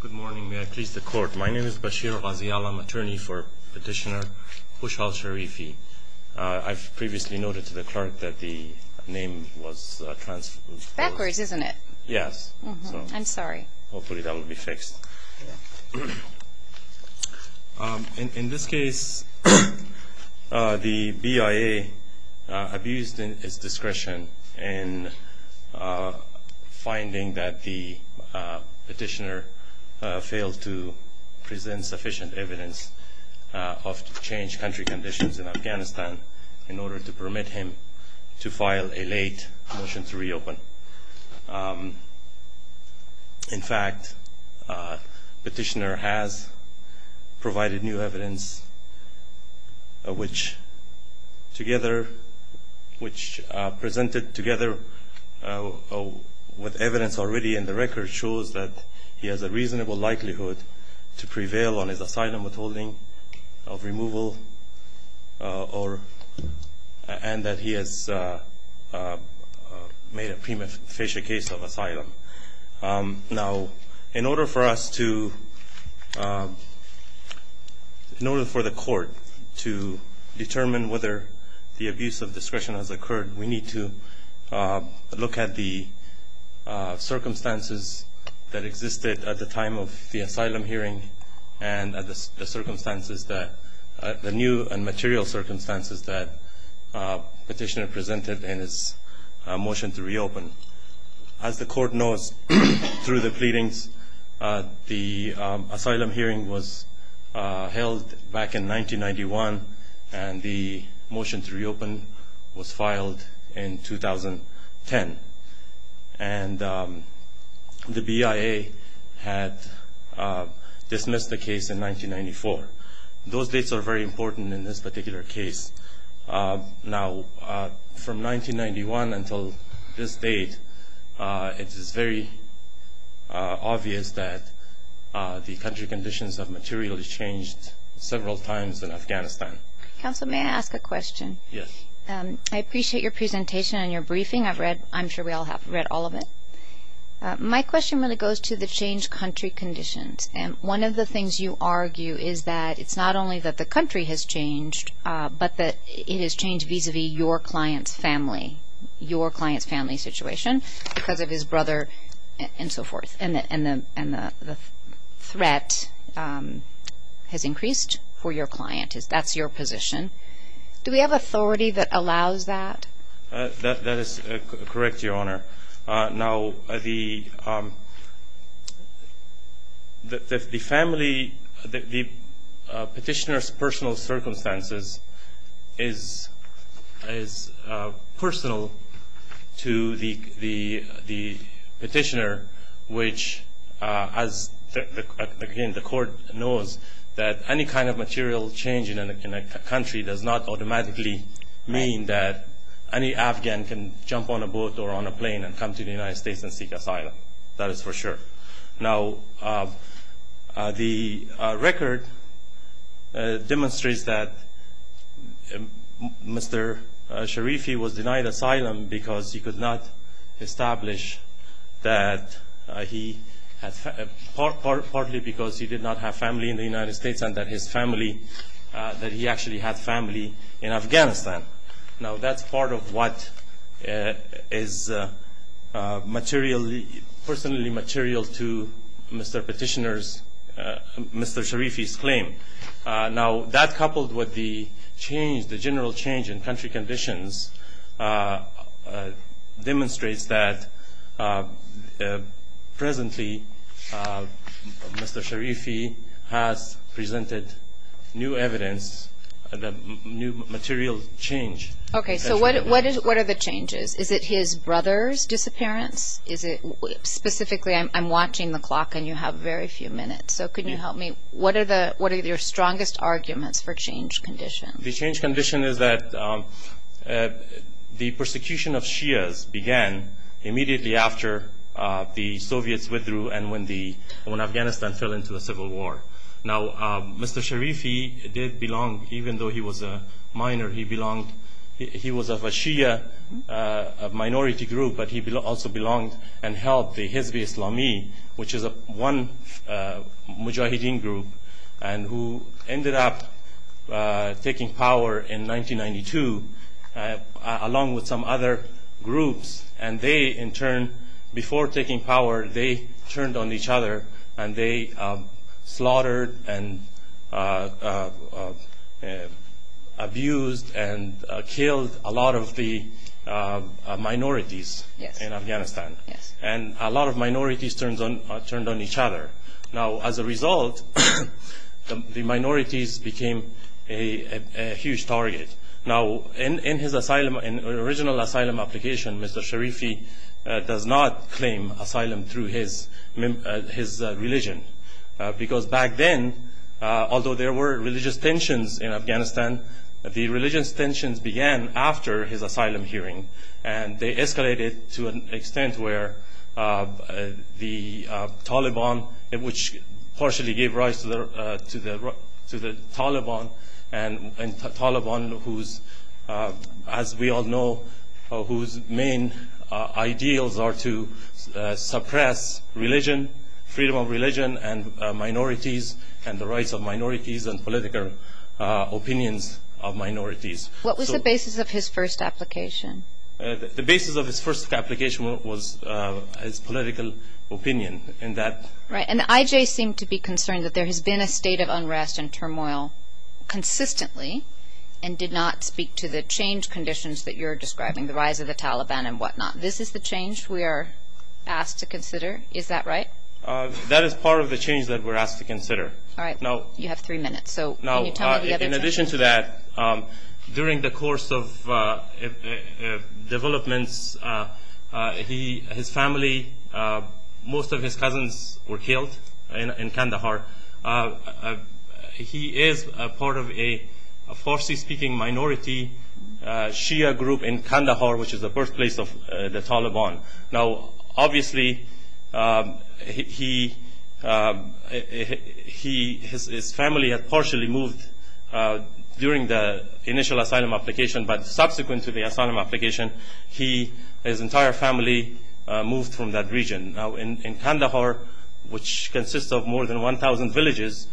Good morning, may I please the court. My name is Bashir Ghazial. I'm attorney for petitioner Khushal Sharifi. I've previously noted to the clerk that the name was Backwards, isn't it? Yes. I'm sorry. Hopefully that will be fixed In this case The BIA abused in its discretion in Finding that the petitioner failed to present sufficient evidence Of to change country conditions in Afghanistan in order to permit him to file a late motion to reopen In fact Petitioner has provided new evidence Which together which presented together With evidence already in the record shows that he has a reasonable likelihood to prevail on his asylum withholding of removal or and that he has Made a prima facie case of asylum now in order for us to In order for the court to determine whether the abuse of discretion has occurred we need to look at the Circumstances that existed at the time of the asylum hearing and at the circumstances that the new and material circumstances that Petitioner presented in his motion to reopen as the court knows through the pleadings the Asylum hearing was held back in 1991 and the motion to reopen was filed in 2010 and The BIA had Dismissed the case in 1994 those dates are very important in this particular case now from 1991 until this date it is very Obvious that The country conditions of material is changed several times in Afghanistan council may I ask a question yes I appreciate your presentation and your briefing. I've read. I'm sure we all have read all of it My question when it goes to the changed country conditions and one of the things you argue Is that it's not only that the country has changed But that it has changed vis-a-vis your clients family your clients family situation because of his brother and so forth and the and the threat Has increased for your client is that's your position Do we have authority that allows that that is correct your honor now the That the family that the petitioner's personal circumstances is Is personal to the the the petitioner which as Again the court knows that any kind of material change in a country does not automatically Mean that any Afghan can jump on a boat or on a plane and come to the United States and seek asylum That is for sure now The record Demonstrates that Mr. Sharifi was denied asylum because he could not establish That he Partly because he did not have family in the United States and that his family That he actually had family in Afghanistan. Now, that's part of what? is Materially personally material to mr. Petitioners Mr. Sharifi's claim now that coupled with the change the general change in country conditions Demonstrates that Presently Mr. Sharifi has presented new evidence The new material change. Okay. So what what is what are the changes? Is it his brother's disappearance? Is it? Specifically, I'm watching the clock and you have very few minutes. So, can you help me? What are the what are your strongest arguments for change condition? The change condition is that? The persecution of Shias began immediately after The Soviets withdrew and when the when Afghanistan fell into a civil war now, mr Sharifi did belong even though he was a minor he belonged he was of a Shia Minority group, but he also belonged and helped the Hizbi Islami, which is a one Mujahideen group and who ended up Taking power in 1992 Along with some other groups and they in turn before taking power. They turned on each other and they slaughtered and Abused and killed a lot of the Minorities in Afghanistan and a lot of minorities turns on turned on each other now as a result The minorities became a Huge target now in in his asylum in original asylum application. Mr. Sharifi does not claim asylum through his his religion because back then Although there were religious tensions in Afghanistan the religious tensions began after his asylum hearing and they escalated to an extent where the Taliban in which partially gave rise to their to the to the Taliban and Taliban whose as we all know whose main ideals are to suppress religion freedom of religion and minorities and the rights of minorities and political opinions of minorities What was the basis of his first application? The basis of his first application was his political opinion in that right and the IJ seemed to be concerned that there has been a state of unrest and turmoil Consistently and did not speak to the change conditions that you're describing the rise of the Taliban and whatnot This is the change we are asked to consider. Is that right? That is part of the change that we're asked to consider. All right. No, you have three minutes. So now in addition to that during the course of Developments He his family Most of his cousins were killed in Kandahar He is a part of a Farsi-speaking minority Shia group in Kandahar, which is the birthplace of the Taliban now, obviously he He his family had partially moved During the initial asylum application but subsequent to the asylum application he his entire family Moved from that region now in Kandahar, which consists of more than 1,000 villages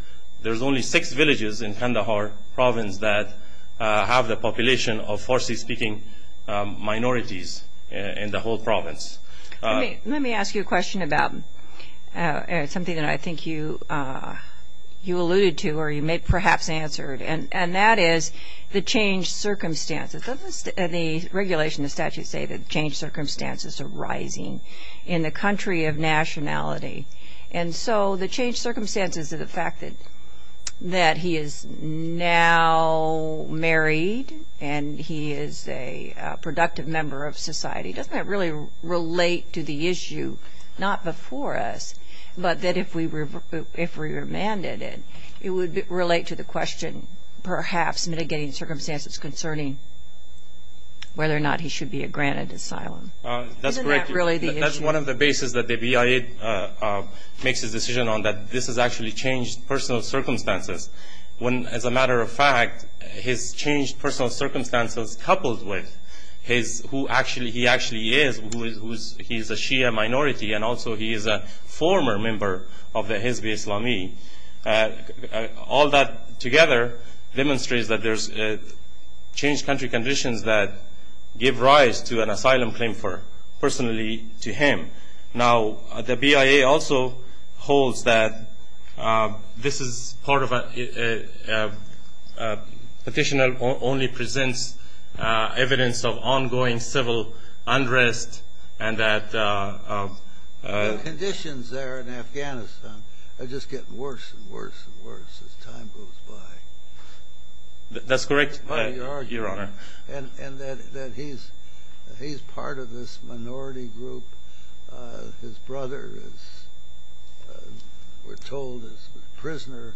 There's only six villages in Kandahar province that Have the population of Farsi-speaking minorities in the whole province Let me ask you a question about something that I think you You alluded to or you may perhaps answered and and that is the change Circumstances and the regulation the statute say that change circumstances are rising in the country of nationality and so the change circumstances of the fact that That he is now Married and he is a Productive member of society doesn't that really relate to the issue not before us But that if we were if we remanded it it would relate to the question perhaps mitigating circumstances concerning Whether or not he should be a granted asylum. That's right. Really. That's one of the basis that the BIA Makes a decision on that. This has actually changed personal circumstances When as a matter of fact his changed personal circumstances coupled with his who actually he actually is He's a Shia minority and also he is a former member of the Hezbi Islami all that together Demonstrates that there's a Change country conditions that give rise to an asylum claim for personally to him now the BIA also holds that this is part of a Petitioner only presents evidence of ongoing civil unrest and that Conditions there in Afghanistan are just getting worse and worse and worse as time goes by That's correct, your honor He's part of this minority group his brother is We're told as prisoner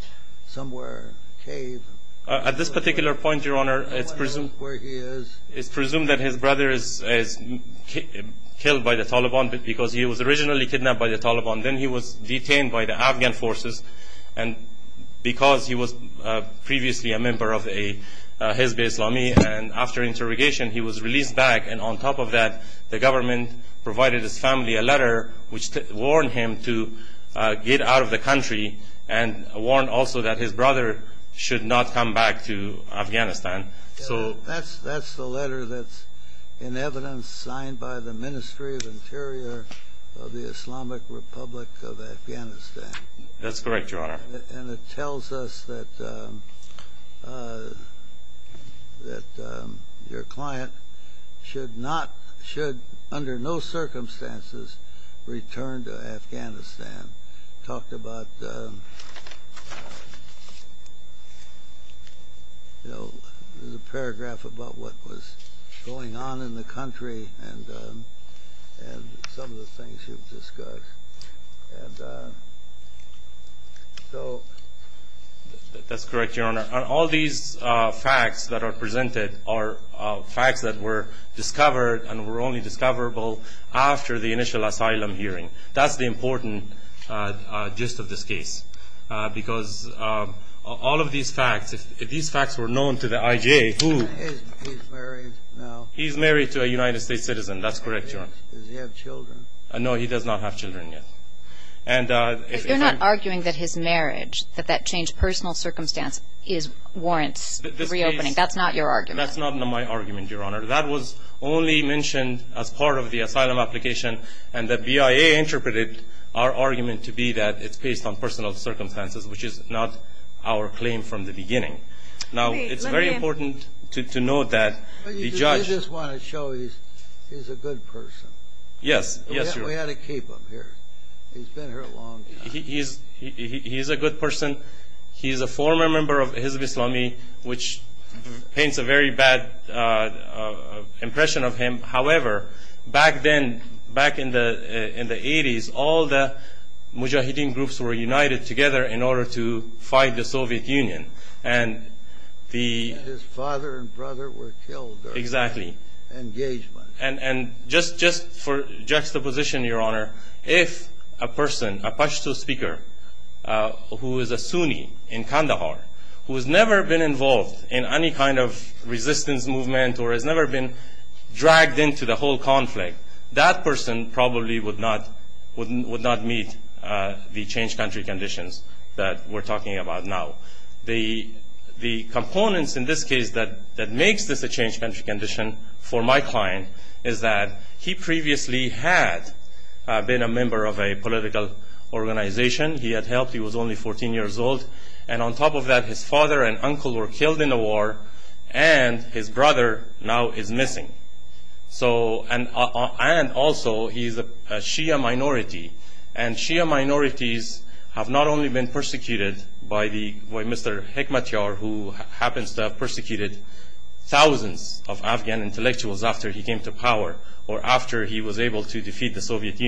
Somewhere cave at this particular point your honor. It's presumed where he is. It's presumed that his brother is Killed by the Taliban but because he was originally kidnapped by the Taliban then he was detained by the Afghan forces and because he was previously a member of a Hezbi Islami and after interrogation he was released back and on top of that the government provided his family a letter which warned him to Get out of the country and warned also that his brother should not come back to Afghanistan So that's that's the letter that's in evidence signed by the Ministry of Interior of the Islamic Republic of Afghanistan That's correct, your honor and it tells us that That Your client should not should under no circumstances Return to Afghanistan talked about You Know there's a paragraph about what was going on in the country and That's correct your honor all these facts that are presented or Facts that were discovered and were only discoverable after the initial asylum hearing that's the important Gist of this case because all of these facts if these facts were known to the IJ He's married to a United States citizen, that's correct No, he does not have children yet, and They're not arguing that his marriage that that changed personal circumstance is warrants That's not your argument. That's not my argument your honor That was only mentioned as part of the asylum application and the BIA Interpreted our argument to be that it's based on personal circumstances, which is not our claim from the beginning now It's very important to know that Yes He's he's a good person he's a former member of his of Islami which paints a very bad Impression of him however back then back in the in the 80s all the Mujahideen groups were united together in order to fight the Soviet Union and the Exactly and and just just for juxtaposition your honor if a person a Pashto speaker Who is a Sunni in Kandahar who has never been involved in any kind of? Resistance movement or has never been Dragged into the whole conflict that person probably would not wouldn't would not meet the change country conditions that we're talking about now the The components in this case that that makes this a change country condition for my client is that he previously had Been a member of a political Organization he had helped he was only 14 years old and on top of that his father and uncle were killed in the war and His brother now is missing so and I and also he's a Shia minority and Shia minorities have not only been persecuted by the way mr. Hikmati or who happens to have persecuted Thousands of Afghan intellectuals after he came to power or after he was able to defeat the Soviet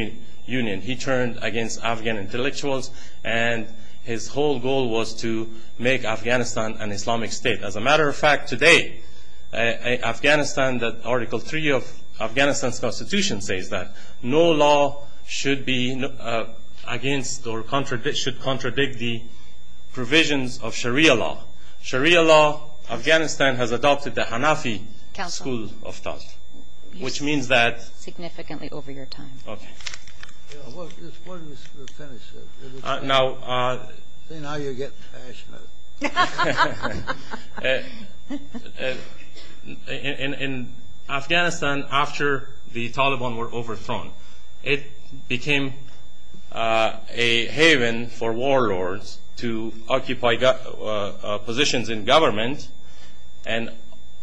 Union he turned against Afghan intellectuals and His whole goal was to make Afghanistan an Islamic state as a matter of fact today Afghanistan that article 3 of Afghanistan's Constitution says that no law should be against or contradict should contradict the provisions of Sharia law Sharia law Afghanistan has adopted the Hanafi school of thought which means that significantly over your time Now In Afghanistan after the Taliban were overthrown it became a haven for warlords to occupy got positions in government and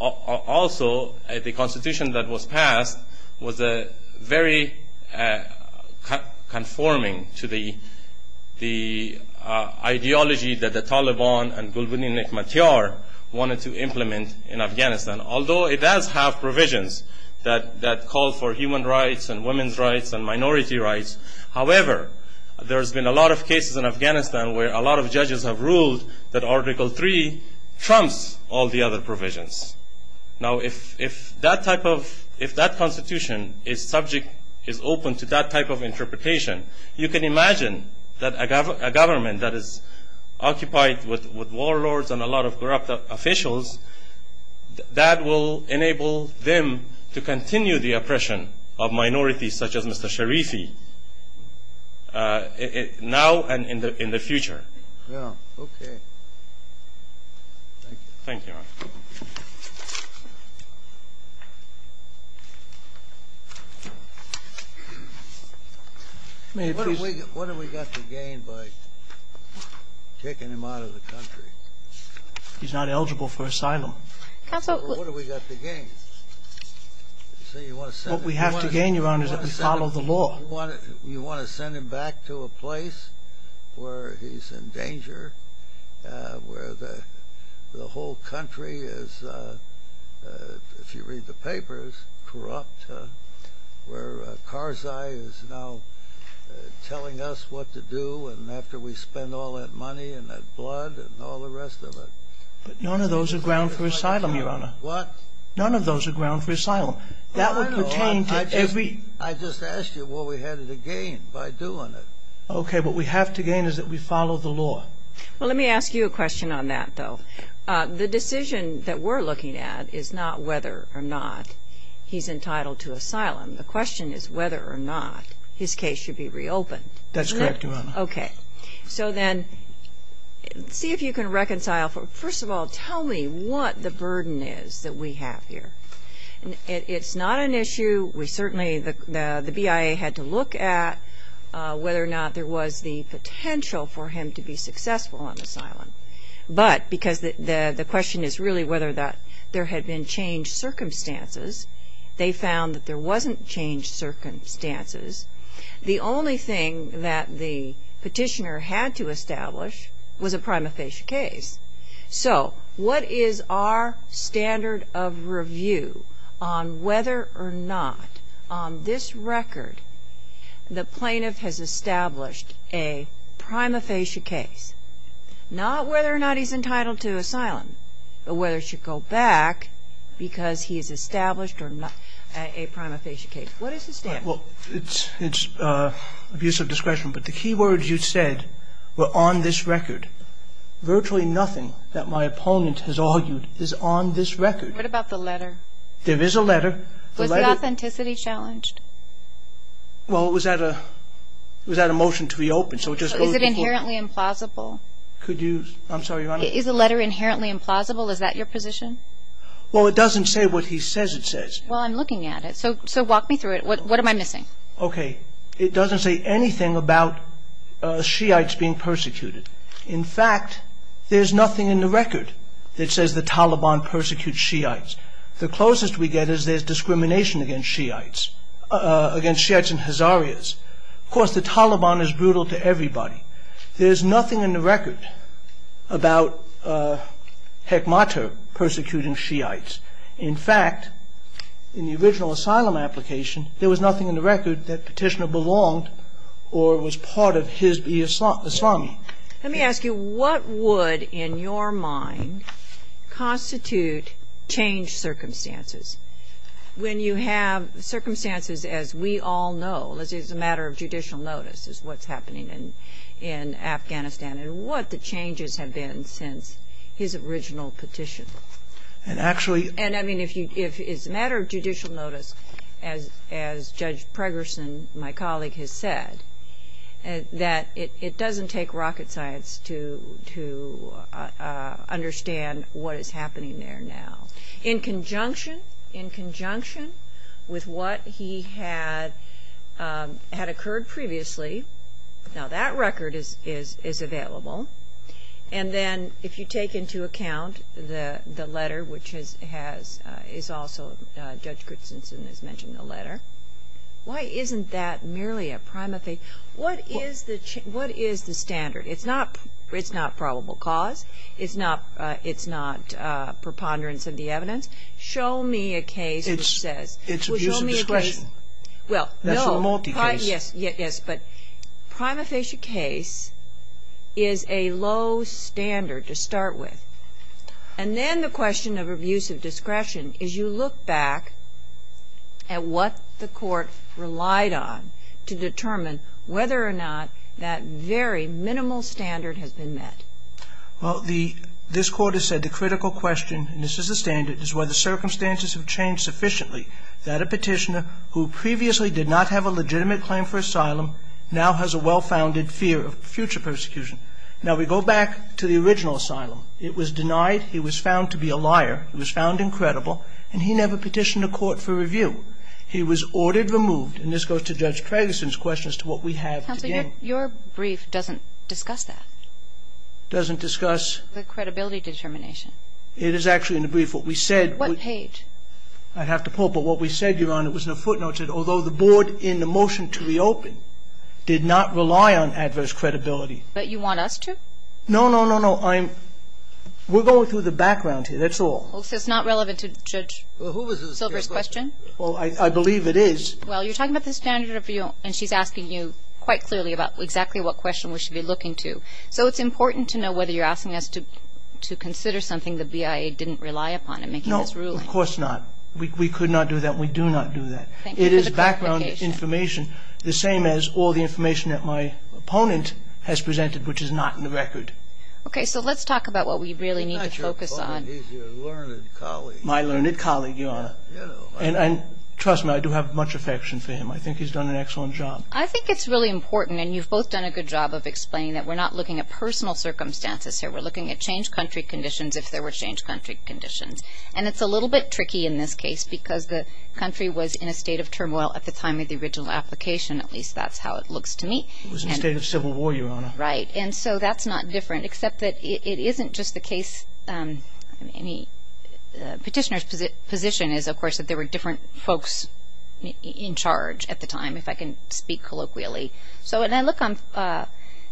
Also at the Constitution that was passed was a very Conforming to the the Afghanistan although it does have provisions that that call for human rights and women's rights and minority rights however There's been a lot of cases in Afghanistan where a lot of judges have ruled that article 3 trumps all the other provisions now if if that type of if that Constitution is subject is open to that type of Interpretation you can imagine that a government that is occupied with warlords and a lot of corrupt officials That will enable them to continue the oppression of minorities such as mr. Sharifi Now and in the in the future Okay, thank you Maybe what do we got to gain by taking him out of the country? He's not eligible for asylum What we have to gain your honor that we follow the law what you want to send him back to a place Where he's in danger where the the whole country is If you read the papers corrupt where Karzai is now Telling us what to do and after we spend all that money and that blood and all the rest of it But none of those are ground for asylum your honor what none of those are ground for asylum that would pertain to every I just asked you what we had to gain by doing it. Okay, what we have to gain is that we follow the law Well, let me ask you a question on that though The decision that we're looking at is not whether or not He's entitled to asylum. The question is whether or not his case should be reopened. That's correct. Okay, so then See if you can reconcile for first of all, tell me what the burden is that we have here It's not an issue we certainly the the BIA had to look at whether or not there was the Potential for him to be successful on this island, but because the the question is really whether that there had been changed Circumstances they found that there wasn't changed Circumstances the only thing that the petitioner had to establish was a prima facie case So what is our? Standard of review on whether or not on this record the plaintiff has established a prima facie case Not whether or not he's entitled to asylum, but whether it should go back Because he is established or not a prima facie case. What is the stand? Well, it's it's Abusive discretion, but the key words you said were on this record Virtually nothing that my opponent has argued is on this record. What about the letter? There is a letter authenticity challenged Well, it was at a Was that a motion to reopen so just it inherently implausible could use I'm sorry It is a letter inherently implausible. Is that your position? Well, it doesn't say what he says it says. Well, I'm looking at it. So so walk me through it. What am I missing? Okay, it doesn't say anything about Shiites being persecuted In fact, there's nothing in the record that says the Taliban persecute Shiites The closest we get is there's discrimination against Shiites Against shirts and has arias, of course, the Taliban is brutal to everybody. There's nothing in the record about heck mater persecuting Shiites in fact In the original asylum application there was nothing in the record that petitioner belonged or was part of his be a son Let me ask you what would in your mind? constitute change circumstances when you have Circumstances as we all know this is a matter of judicial notice is what's happening in in Afghanistan and what the changes have been since his original petition And actually and I mean if you if it's a matter of judicial notice as as judge Pregerson my colleague has said that it doesn't take rocket science to to Understand what is happening there now in conjunction in conjunction with what he had Had occurred previously Now that record is is is available And then if you take into account the the letter which has has is also Judge, Kristinsen has mentioned the letter Why isn't that merely a primacy? What is the what is the standard? It's not it's not probable cause It's not it's not preponderance of the evidence show me a case it says Well, no, yes, yes, but prima facie case is a low standard to start with and Then the question of abuse of discretion is you look back At what the court relied on to determine whether or not that very minimal standard has been met Well, the this court has said the critical question and this is the standard is whether circumstances have changed sufficiently That a petitioner who previously did not have a legitimate claim for asylum now has a well-founded fear of future persecution Now we go back to the original asylum. It was denied He was found to be a liar who was found incredible and he never petitioned a court for review He was ordered removed and this goes to judge Ferguson's questions to what we have your brief doesn't discuss that Doesn't discuss the credibility determination. It is actually in the brief what we said what page I'd have to pull But what we said you're on it was in a footnote said although the board in the motion to reopen Did not rely on adverse credibility, but you want us to no, no, no, no, I'm We're going through the background here. That's all. It's not relevant to judge Silver's question. Well, I believe it is Well, you're talking about the standard of view and she's asking you quite clearly about exactly what question we should be looking to So it's important to know whether you're asking us to to consider something the BIA didn't rely upon it No, of course not. We could not do that. We do not do that It is background information the same as all the information that my opponent has presented which is not in the record Okay, so let's talk about what we really need to focus on My learned colleague your honor and I trust me. I do have much affection for him. I think he's done an excellent job I think it's really important and you've both done a good job of explaining that we're not looking at personal circumstances here We're looking at changed country conditions if there were changed country conditions And it's a little bit tricky in this case because the country was in a state of turmoil at the time of the original Application at least that's how it looks to me Right, and so that's not different except that it isn't just the case any Petitioners position is of course that there were different folks In charge at the time if I can speak colloquially so and I look on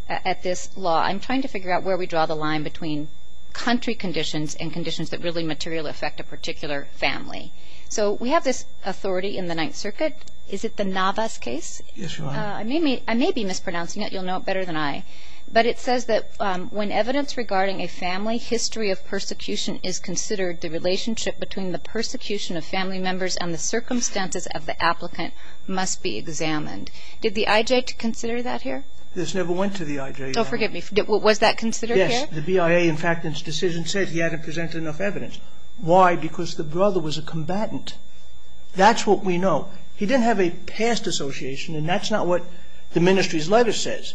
at this law, I'm trying to figure out where we draw the line between Country conditions and conditions that really material affect a particular family So we have this authority in the Ninth Circuit. Is it the novice case? Yes, I mean me I may be mispronouncing it You'll know it better than I but it says that when evidence regarding a family history of persecution is considered the relationship between the Persecution of family members and the circumstances of the applicant must be examined did the IJ to consider that here Never went to the IJ. Oh, forgive me. What was that considered? Yes, the BIA in fact its decision said he hadn't presented enough evidence. Why because the brother was a combatant That's what we know. He didn't have a past association and that's not what the ministry's letter says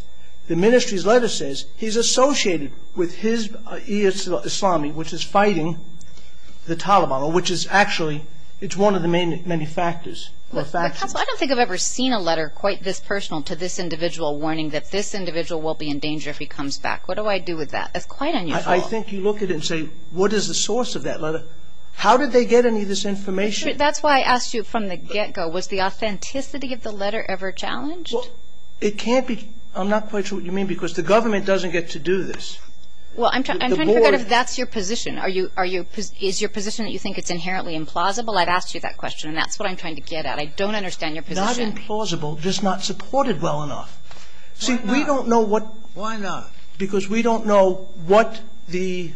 the ministry's letter says He's associated with his Islami which is fighting The Taliban which is actually it's one of the main many factors I don't think I've ever seen a letter quite this personal to this individual warning that this individual will be in danger if he comes Back, what do I do with that? That's quite unusual. I think you look at it and say what is the source of that letter? How did they get any of this information? That's why I asked you from the get-go was the authenticity of the letter ever challenged It can't be I'm not quite sure what you mean because the government doesn't get to do this Well, I'm trying to that's your position. Are you are you is your position that you think it's inherently implausible? I've asked you that question and that's what I'm trying to get at. I don't understand your position plausible. Just not supported well enough see, we don't know what why not because we don't know what the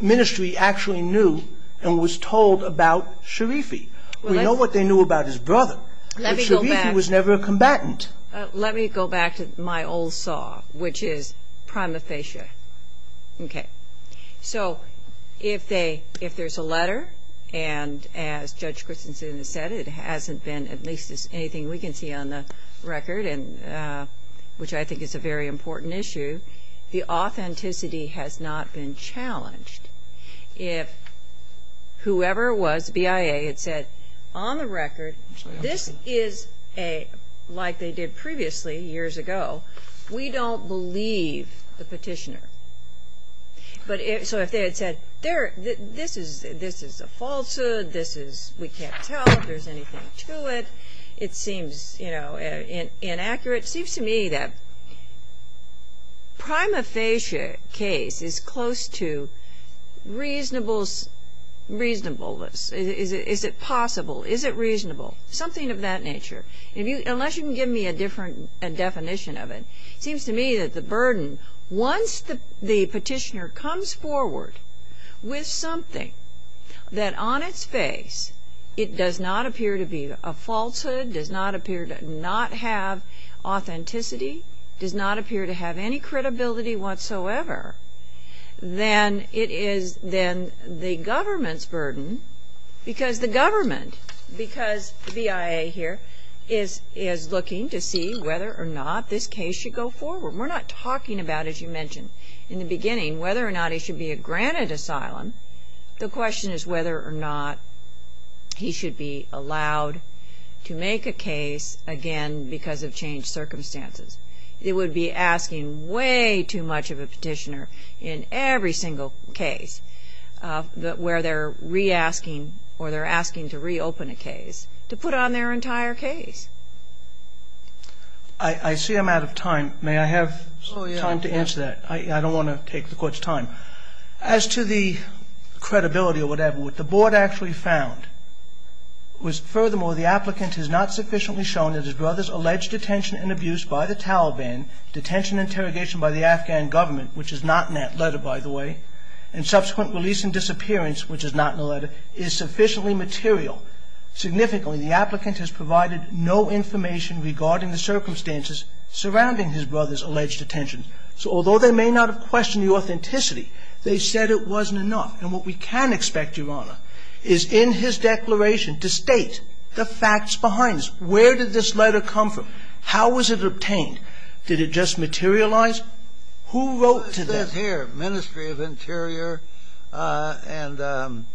Ministry actually knew and was told about Sharifi. We know what they knew about his brother Was never a combatant. Let me go back to my old saw which is Primate Asia okay, so if they if there's a letter and as Judge Christensen has said it hasn't been at least as anything we can see on the record and Which I think it's a very important issue. The authenticity has not been challenged if whoever was BIA had said on the record this is a Like they did previously years ago. We don't believe the petitioner But if so if they had said there this is this is a falsehood this is we can't tell if there's anything to it It seems you know inaccurate seems to me that Prime aphasia case is close to reasonable Reasonableness is it possible? Is it reasonable something of that nature if you unless you can give me a different Definition of it seems to me that the burden once the the petitioner comes forward with something That on its face it does not appear to be a falsehood does not appear to not have Authenticity does not appear to have any credibility whatsoever Because the government Because the BIA here is is looking to see whether or not this case should go forward We're not talking about as you mentioned in the beginning whether or not it should be a granted asylum The question is whether or not He should be allowed To make a case again because of changed circumstances It would be asking way too much of a petitioner in every single case That where they're reasking or they're asking to reopen a case to put on their entire case I See I'm out of time may I have time to answer that I don't want to take the court's time as to the credibility or whatever what the board actually found Was furthermore the applicant has not sufficiently shown that his brother's alleged detention and abuse by the Taliban Detention interrogation by the Afghan government, which is not in that letter by the way and subsequent release and disappearance Which is not in the letter is sufficiently material Significantly the applicant has provided no information regarding the circumstances surrounding his brother's alleged detention So although they may not have questioned the authenticity They said it wasn't enough and what we can expect your honor is in his declaration to state the facts behind us Did this letter come from how was it obtained did it just materialize who wrote to this here Ministry of Interior and An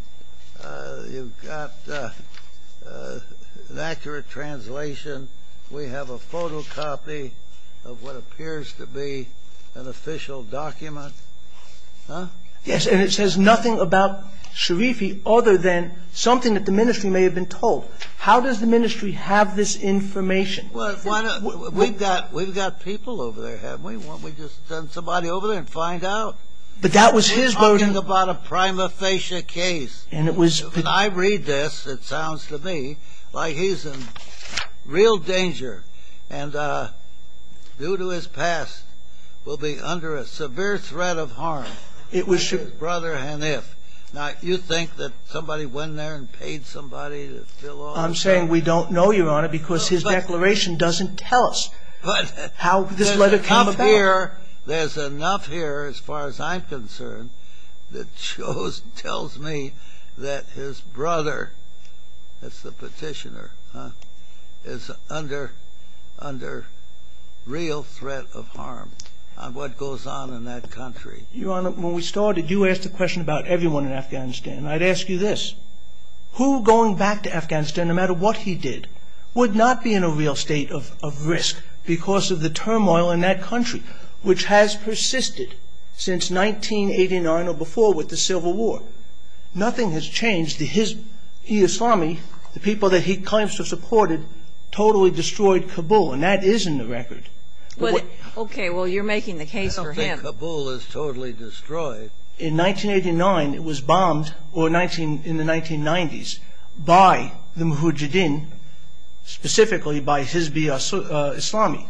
accurate translation we have a photocopy of what appears to be an official document Yes, and it says nothing about Sharifi other than something that the ministry may have been told. How does the ministry have this information? But that was his voting about a prima facie case and it was I read this it sounds to me like he's in real danger and Due to his past Will be under a severe threat of harm It was should brother and if now you think that somebody went there and paid somebody I'm saying we don't know your honor because his declaration doesn't tell us How this letter come up here? There's enough here as far as I'm concerned that shows tells me that his brother That's the petitioner is under under Real threat of harm on what goes on in that country your honor when we started you asked a question about everyone in Afghanistan I'd ask you this Who going back to Afghanistan no matter what he did? Would not be in a real state of risk because of the turmoil in that country which has persisted since 1989 or before with the Civil War Nothing has changed the his Islami the people that he claims to have supported totally destroyed Kabul and that is in the record Okay, well you're making the case for him In 1989 it was bombed or 19 in the 1990s by the Mujahideen Specifically by his be us Islami.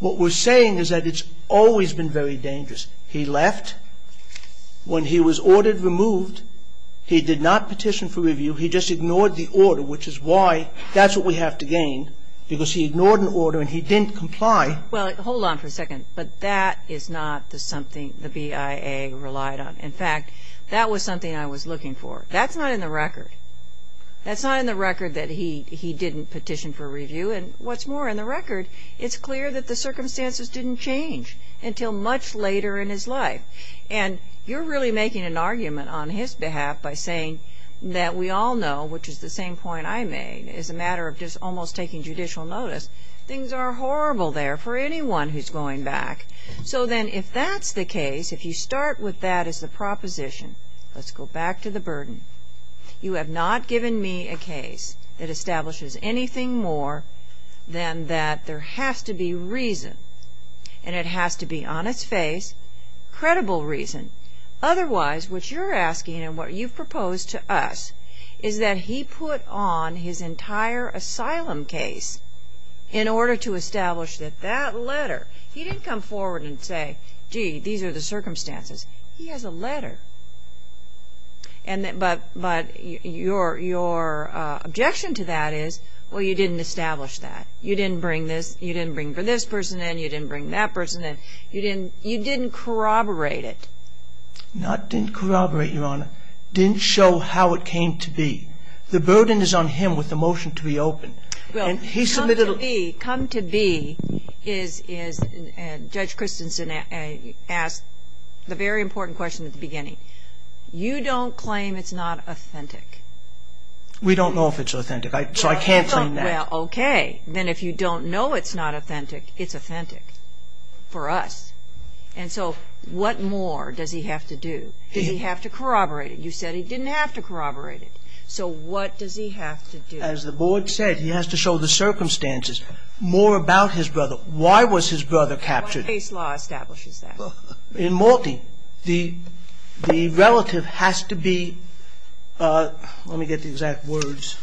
What we're saying is that it's always been very dangerous. He left When he was ordered removed He did not petition for review. He just ignored the order which is why that's what we have to gain Because he ignored an order and he didn't comply well hold on for a second But that is not the something the BIA relied on in fact that was something. I was looking for that's not in the record That's not in the record that he he didn't petition for review and what's more in the record It's clear that the circumstances didn't change until much later in his life And you're really making an argument on his behalf by saying that we all know which is the same point I made as a matter of just almost taking judicial notice things are horrible there for anyone who's going back So then if that's the case if you start with that as the proposition, let's go back to the burden You have not given me a case that establishes anything more Than that there has to be reason and it has to be on its face credible reason Otherwise what you're asking and what you've proposed to us is that he put on his entire Asylum case in order to establish that that letter he didn't come forward and say gee these are the circumstances he has a letter and But your your Objection to that is well you didn't establish that you didn't bring this you didn't bring for this person in you didn't bring that person And you didn't you didn't corroborate it Not didn't corroborate your honor Didn't show how it came to be the burden is on him with the motion to be open well, he submitted a come-to-be is is Judge Christensen asked the very important question at the beginning You don't claim it's not authentic We don't know if it's authentic. I so I can't say well, okay, then if you don't know, it's not authentic. It's authentic for us and So what more does he have to do? Did he have to corroborate it you said he didn't have to corroborate it So what does he have to do as the board said he has to show the circumstances more about his brother Why was his brother captured? Establishes that in malting the the relative has to be Let me get the exact words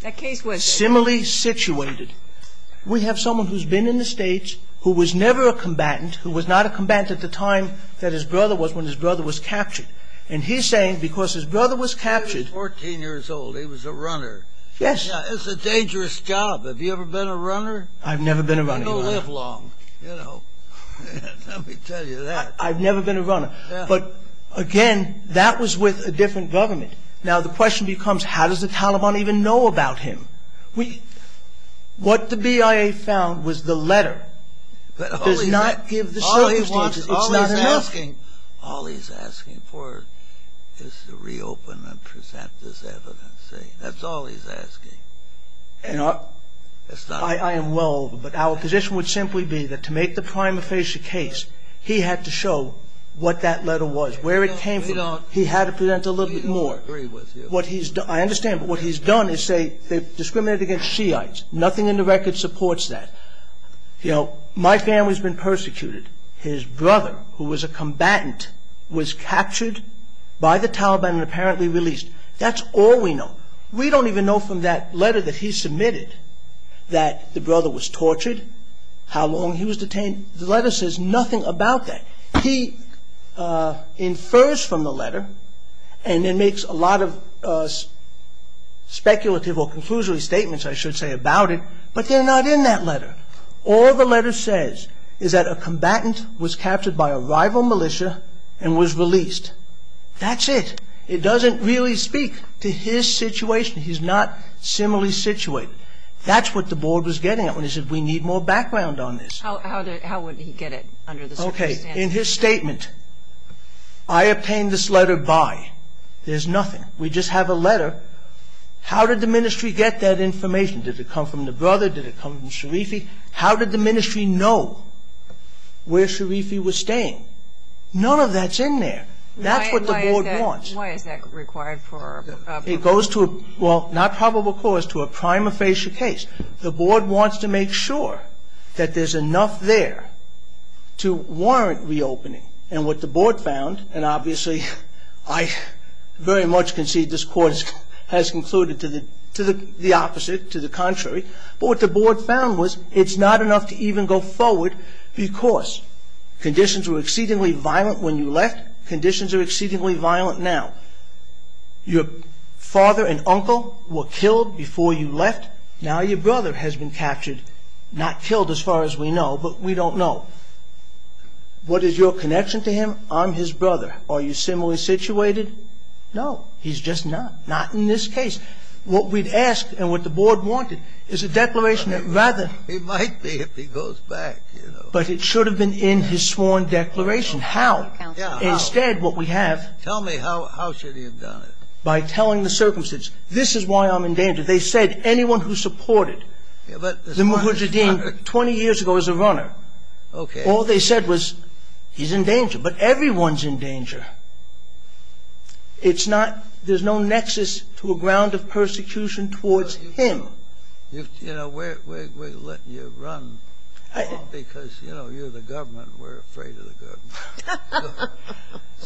That case was simile situated We have someone who's been in the States who was never a combatant who was not a combatant at the time That his brother was when his brother was captured and he's saying because his brother was captured 14 years old. He was a runner Yes, it's a dangerous job. Have you ever been a runner? I've never been around I Never been a runner, but again that was with a different government now the question becomes How does the Taliban even know about him? We? What the BIA found was the letter? But does not give the service Asking all he's asking for is to reopen and present this evidence. That's all he's asking And I Am well, but our position would simply be that to make the prima facie case He had to show what that letter was where it came from He had to present a little bit more what he's done I understand what he's done is say they've discriminated against Shiites nothing in the record supports that You know, my family's been persecuted his brother who was a combatant was captured by the Taliban and apparently released That's all we know. We don't even know from that letter that he submitted That the brother was tortured how long he was detained. The letter says nothing about that he Infers from the letter and it makes a lot of Speculative or conclusory statements I should say about it But they're not in that letter all the letter says is that a combatant was captured by a rival militia and was released That's it. It doesn't really speak to his situation. He's not similarly situated That's what the board was getting at when he said we need more background on this Okay in his statement I Obtained this letter by there's nothing we just have a letter How did the ministry get that information? Did it come from the brother? Did it come from Sharifi? How did the ministry know? Where Sharifi was staying none of that's in there It goes to a well not probable cause to a prima facie case the board wants to make sure that there's enough there to warrant reopening and what the board found and obviously I Very much concede this course has concluded to the to the opposite to the contrary But what the board found was it's not enough to even go forward because Conditions were exceedingly violent when you left conditions are exceedingly violent now Your father and uncle were killed before you left now Your brother has been captured not killed as far as we know, but we don't know What is your connection to him? I'm his brother. Are you similarly situated? No, he's just not not in this case what we've asked and what the board wanted is a declaration that rather But it should have been in his sworn declaration how Instead what we have tell me how By telling the circumstances. This is why I'm in danger. They said anyone who supported The Mahajan 20 years ago as a runner Okay, all they said was he's in danger, but everyone's in danger It's not there's no nexus to a ground of persecution towards him So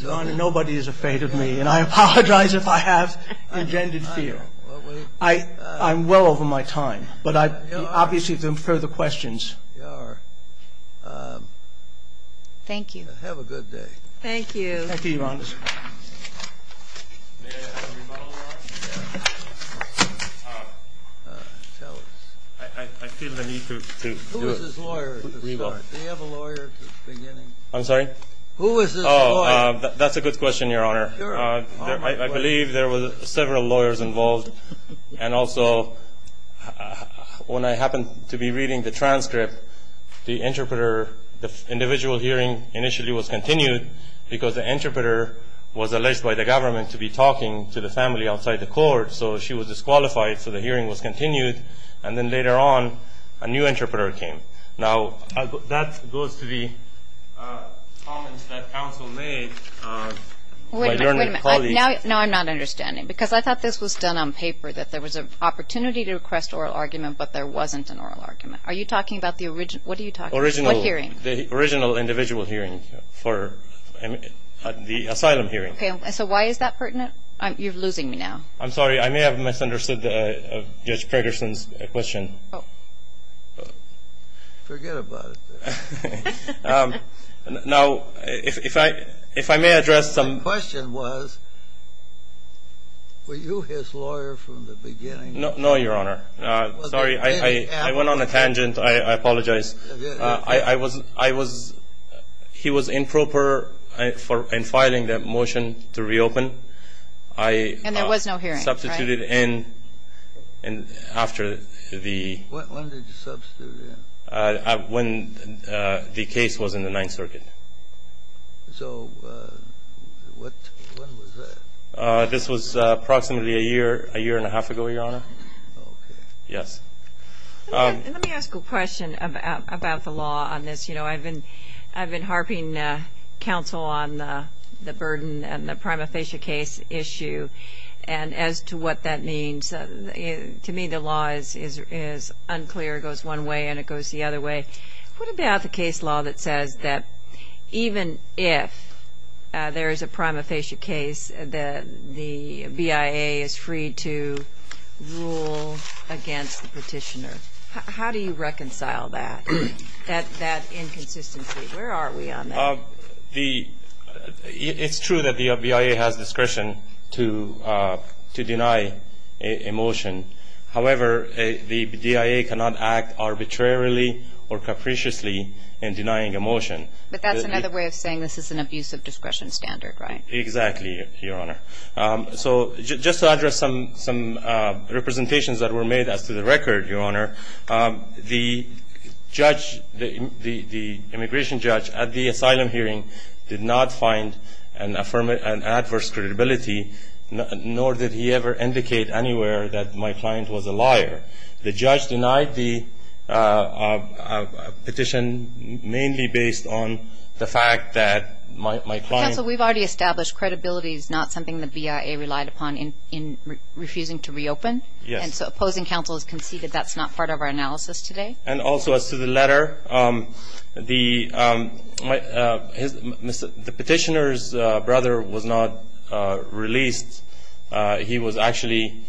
on nobody is afraid of me and I apologize if I have Engended fear. I I'm well over my time, but I obviously them further questions Thank you I Feel the need to I'm sorry. Oh, that's a good question. Your honor. I believe there was several lawyers involved and also When I happen to be reading the transcript the interpreter the individual hearing initially was continued Because the interpreter was alleged by the government to be talking to the family outside the court So she was disqualified. So the hearing was continued and then later on a new interpreter came now that goes to the No, I'm not understanding because I thought this was done on paper that there was a opportunity to request oral argument But there wasn't an oral argument. Are you talking about the original? Original hearing the original individual hearing for The asylum hearing. Okay. So why is that pertinent? I'm you're losing me now. I'm sorry. I may have misunderstood the judge Ferguson's question Now if I if I may address some question was Were you his lawyer from the beginning no, no your honor. Sorry. I went on a tangent. I apologize I wasn't I was He was improper for in filing that motion to reopen. I and there was no hearing substituted in and after the When the case was in the 9th Circuit This was approximately a year a year and a half ago, your honor. Yes And let me ask a question about the law on this, you know, I've been I've been harping counsel on the burden and the prima facie case issue and as to what that means To me the law is is unclear goes one way and it goes the other way. What about the case law that says that? even if There is a prima facie case that the BIA is free to rule Against the petitioner. How do you reconcile that at that inconsistency? Where are we on the it's true that the BIA has discretion to to deny a Motion, however, the BIA cannot act arbitrarily or capriciously in denying a motion But that's another way of saying this is an abuse of discretion standard, right? Exactly your honor so just to address some some Representations that were made as to the record your honor the Judge the the immigration judge at the asylum hearing did not find an affirmative and adverse credibility Nor did he ever indicate anywhere that my client was a liar the judge denied the Petition Mainly based on the fact that my client so we've already established credibility is not something that BIA relied upon in in Opposing counsel has conceded that's not part of our analysis today and also as to the letter the The petitioner's brother was not released he was actually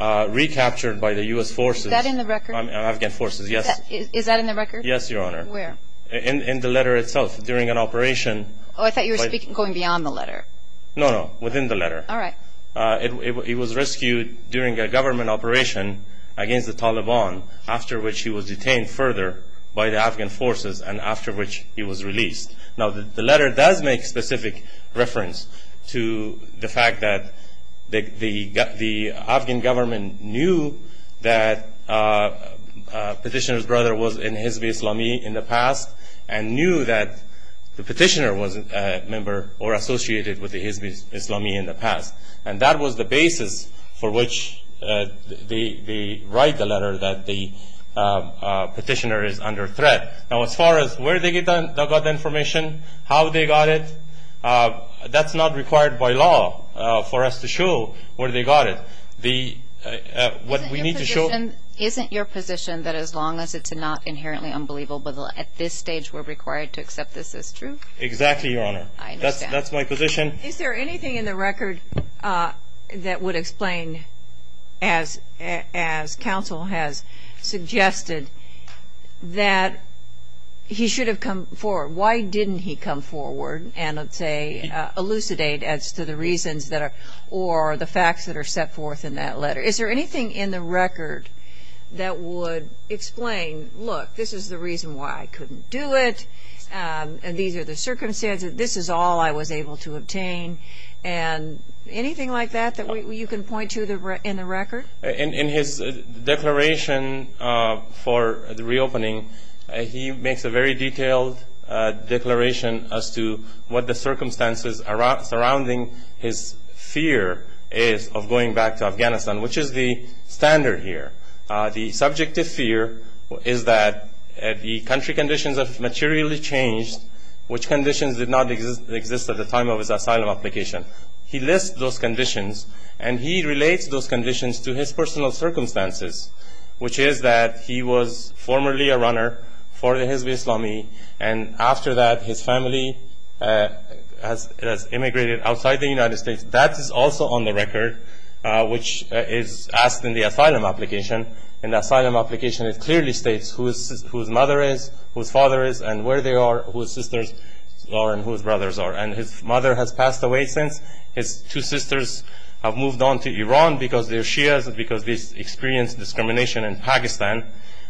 Recaptured by the u.s. Force that in the record. I've got forces. Yes. Is that in the record? Yes, your honor We're in the letter itself during an operation. I thought you were speaking going beyond the letter. No, no within the letter It was rescued during a government operation Against the Taliban after which he was detained further by the Afghan forces and after which he was released now the letter does make specific reference to the fact that they got the Afghan government knew that Petitioner's brother was in Hizbi Islami in the past and knew that Petitioner was a member or associated with the Hizbi Islami in the past and that was the basis for which the write the letter that the Petitioner is under threat now as far as where they get done. They'll got the information how they got it That's not required by law for us to show where they got it the What we need to show and isn't your position that as long as it's not inherently unbelievable at this stage We're required to accept. This is true. Exactly your honor. That's that's my position. Is there anything in the record? that would explain as as council has suggested that He should have come forward. Why didn't he come forward and let's say Elucidate as to the reasons that are or the facts that are set forth in that letter. Is there anything in the record? That would explain look this is the reason why I couldn't do it and these are the circumstances this is all I was able to obtain and Anything like that that you can point to the in the record in his declaration for the reopening He makes a very detailed Declaration as to what the circumstances are surrounding his fear is of going back to Afghanistan Which is the standard here the subjective fear is that the country conditions have materially changed? Which conditions did not exist at the time of his asylum application? He lists those conditions and he relates those conditions to his personal circumstances Which is that he was formerly a runner for the Hizb Islami and after that his family Has it has immigrated outside the United States that is also on the record Which is asked in the asylum application in the asylum application It clearly states who is whose mother is whose father is and where they are whose sisters Are and whose brothers are and his mother has passed away since his two sisters have moved on to Iran because they're Shias because this experienced discrimination in Pakistan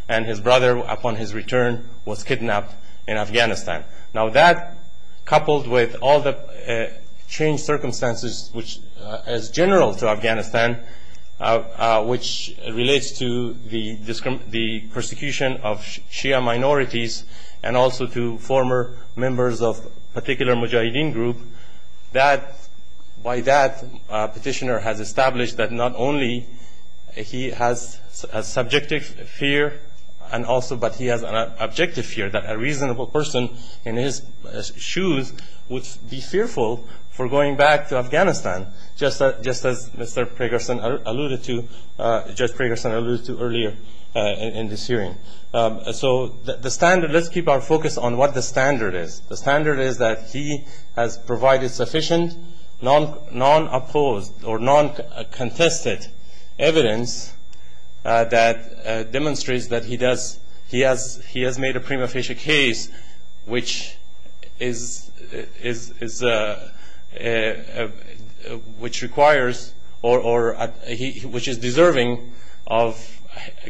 and His brother upon his return was kidnapped in Afghanistan now that coupled with all the Changed circumstances which as general to Afghanistan which relates to the the persecution of Shia minorities and also to former members of particular mujahideen group that by that petitioner has established that not only he has a subjective fear and also but he has an objective fear that a reasonable person in his Shoes would be fearful for going back to Afghanistan. Just that just as mr. Preggerson alluded to judge Preggerson alluded to earlier in this hearing So the standard let's keep our focus on what the standard is. The standard is that he has provided sufficient non non opposed or non contested evidence That demonstrates that he does he has he has made a prima facie case Which is Which requires or which is deserving of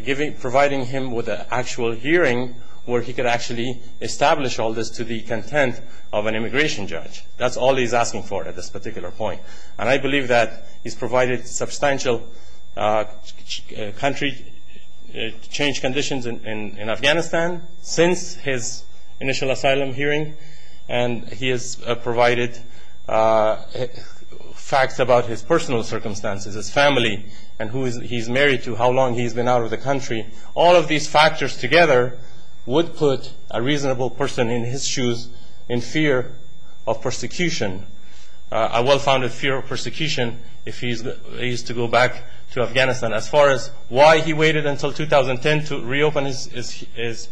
Giving providing him with an actual hearing where he could actually establish all this to the content of an immigration judge That's all he's asking for at this particular point, and I believe that he's provided substantial Country Change conditions in Afghanistan since his initial asylum hearing and he has provided Facts about his personal circumstances his family and who is he's married to how long he's been out of the country all of these factors together would put a reasonable person in his shoes in fear of persecution a Well-founded fear of persecution if he's used to go back to Afghanistan as far as why he waited until 2010 to reopen his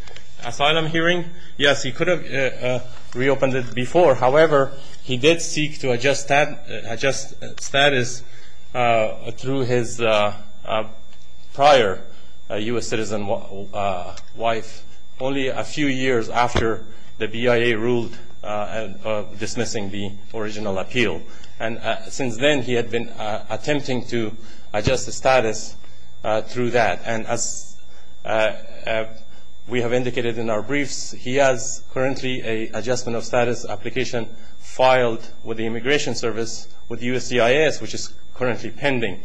Asylum hearing yes, he could have Reopened it before however. He did seek to adjust that adjust status through his prior US citizen Wife only a few years after the BIA ruled Dismissing the original appeal and since then he had been attempting to adjust the status through that and as We have indicated in our briefs he has currently a adjustment of status application Filed with the Immigration Service with USC is which is currently pending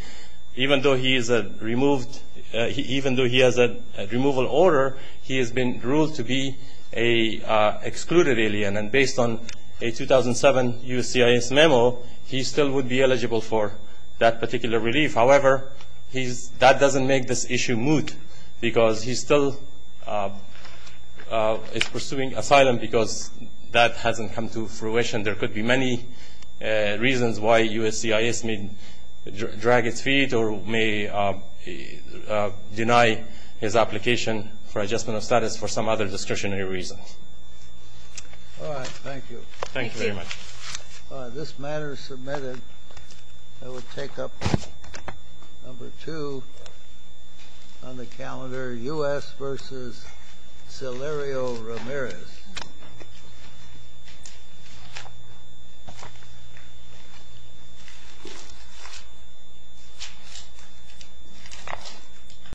even though. He is a removed even though he has a removal order he has been ruled to be a Excluded alien and based on a 2007 USC is memo he still would be eligible for that particular relief however He's that doesn't make this issue moot because he still Is pursuing asylum because that hasn't come to fruition there could be many reasons why USC is mean drag its feet or may Deny his application for adjustment of status for some other discretionary reasons Alright, thank you. Thank you very much This matter is submitted. I would take up number two on the calendar u.s.. Versus Celerio Ramirez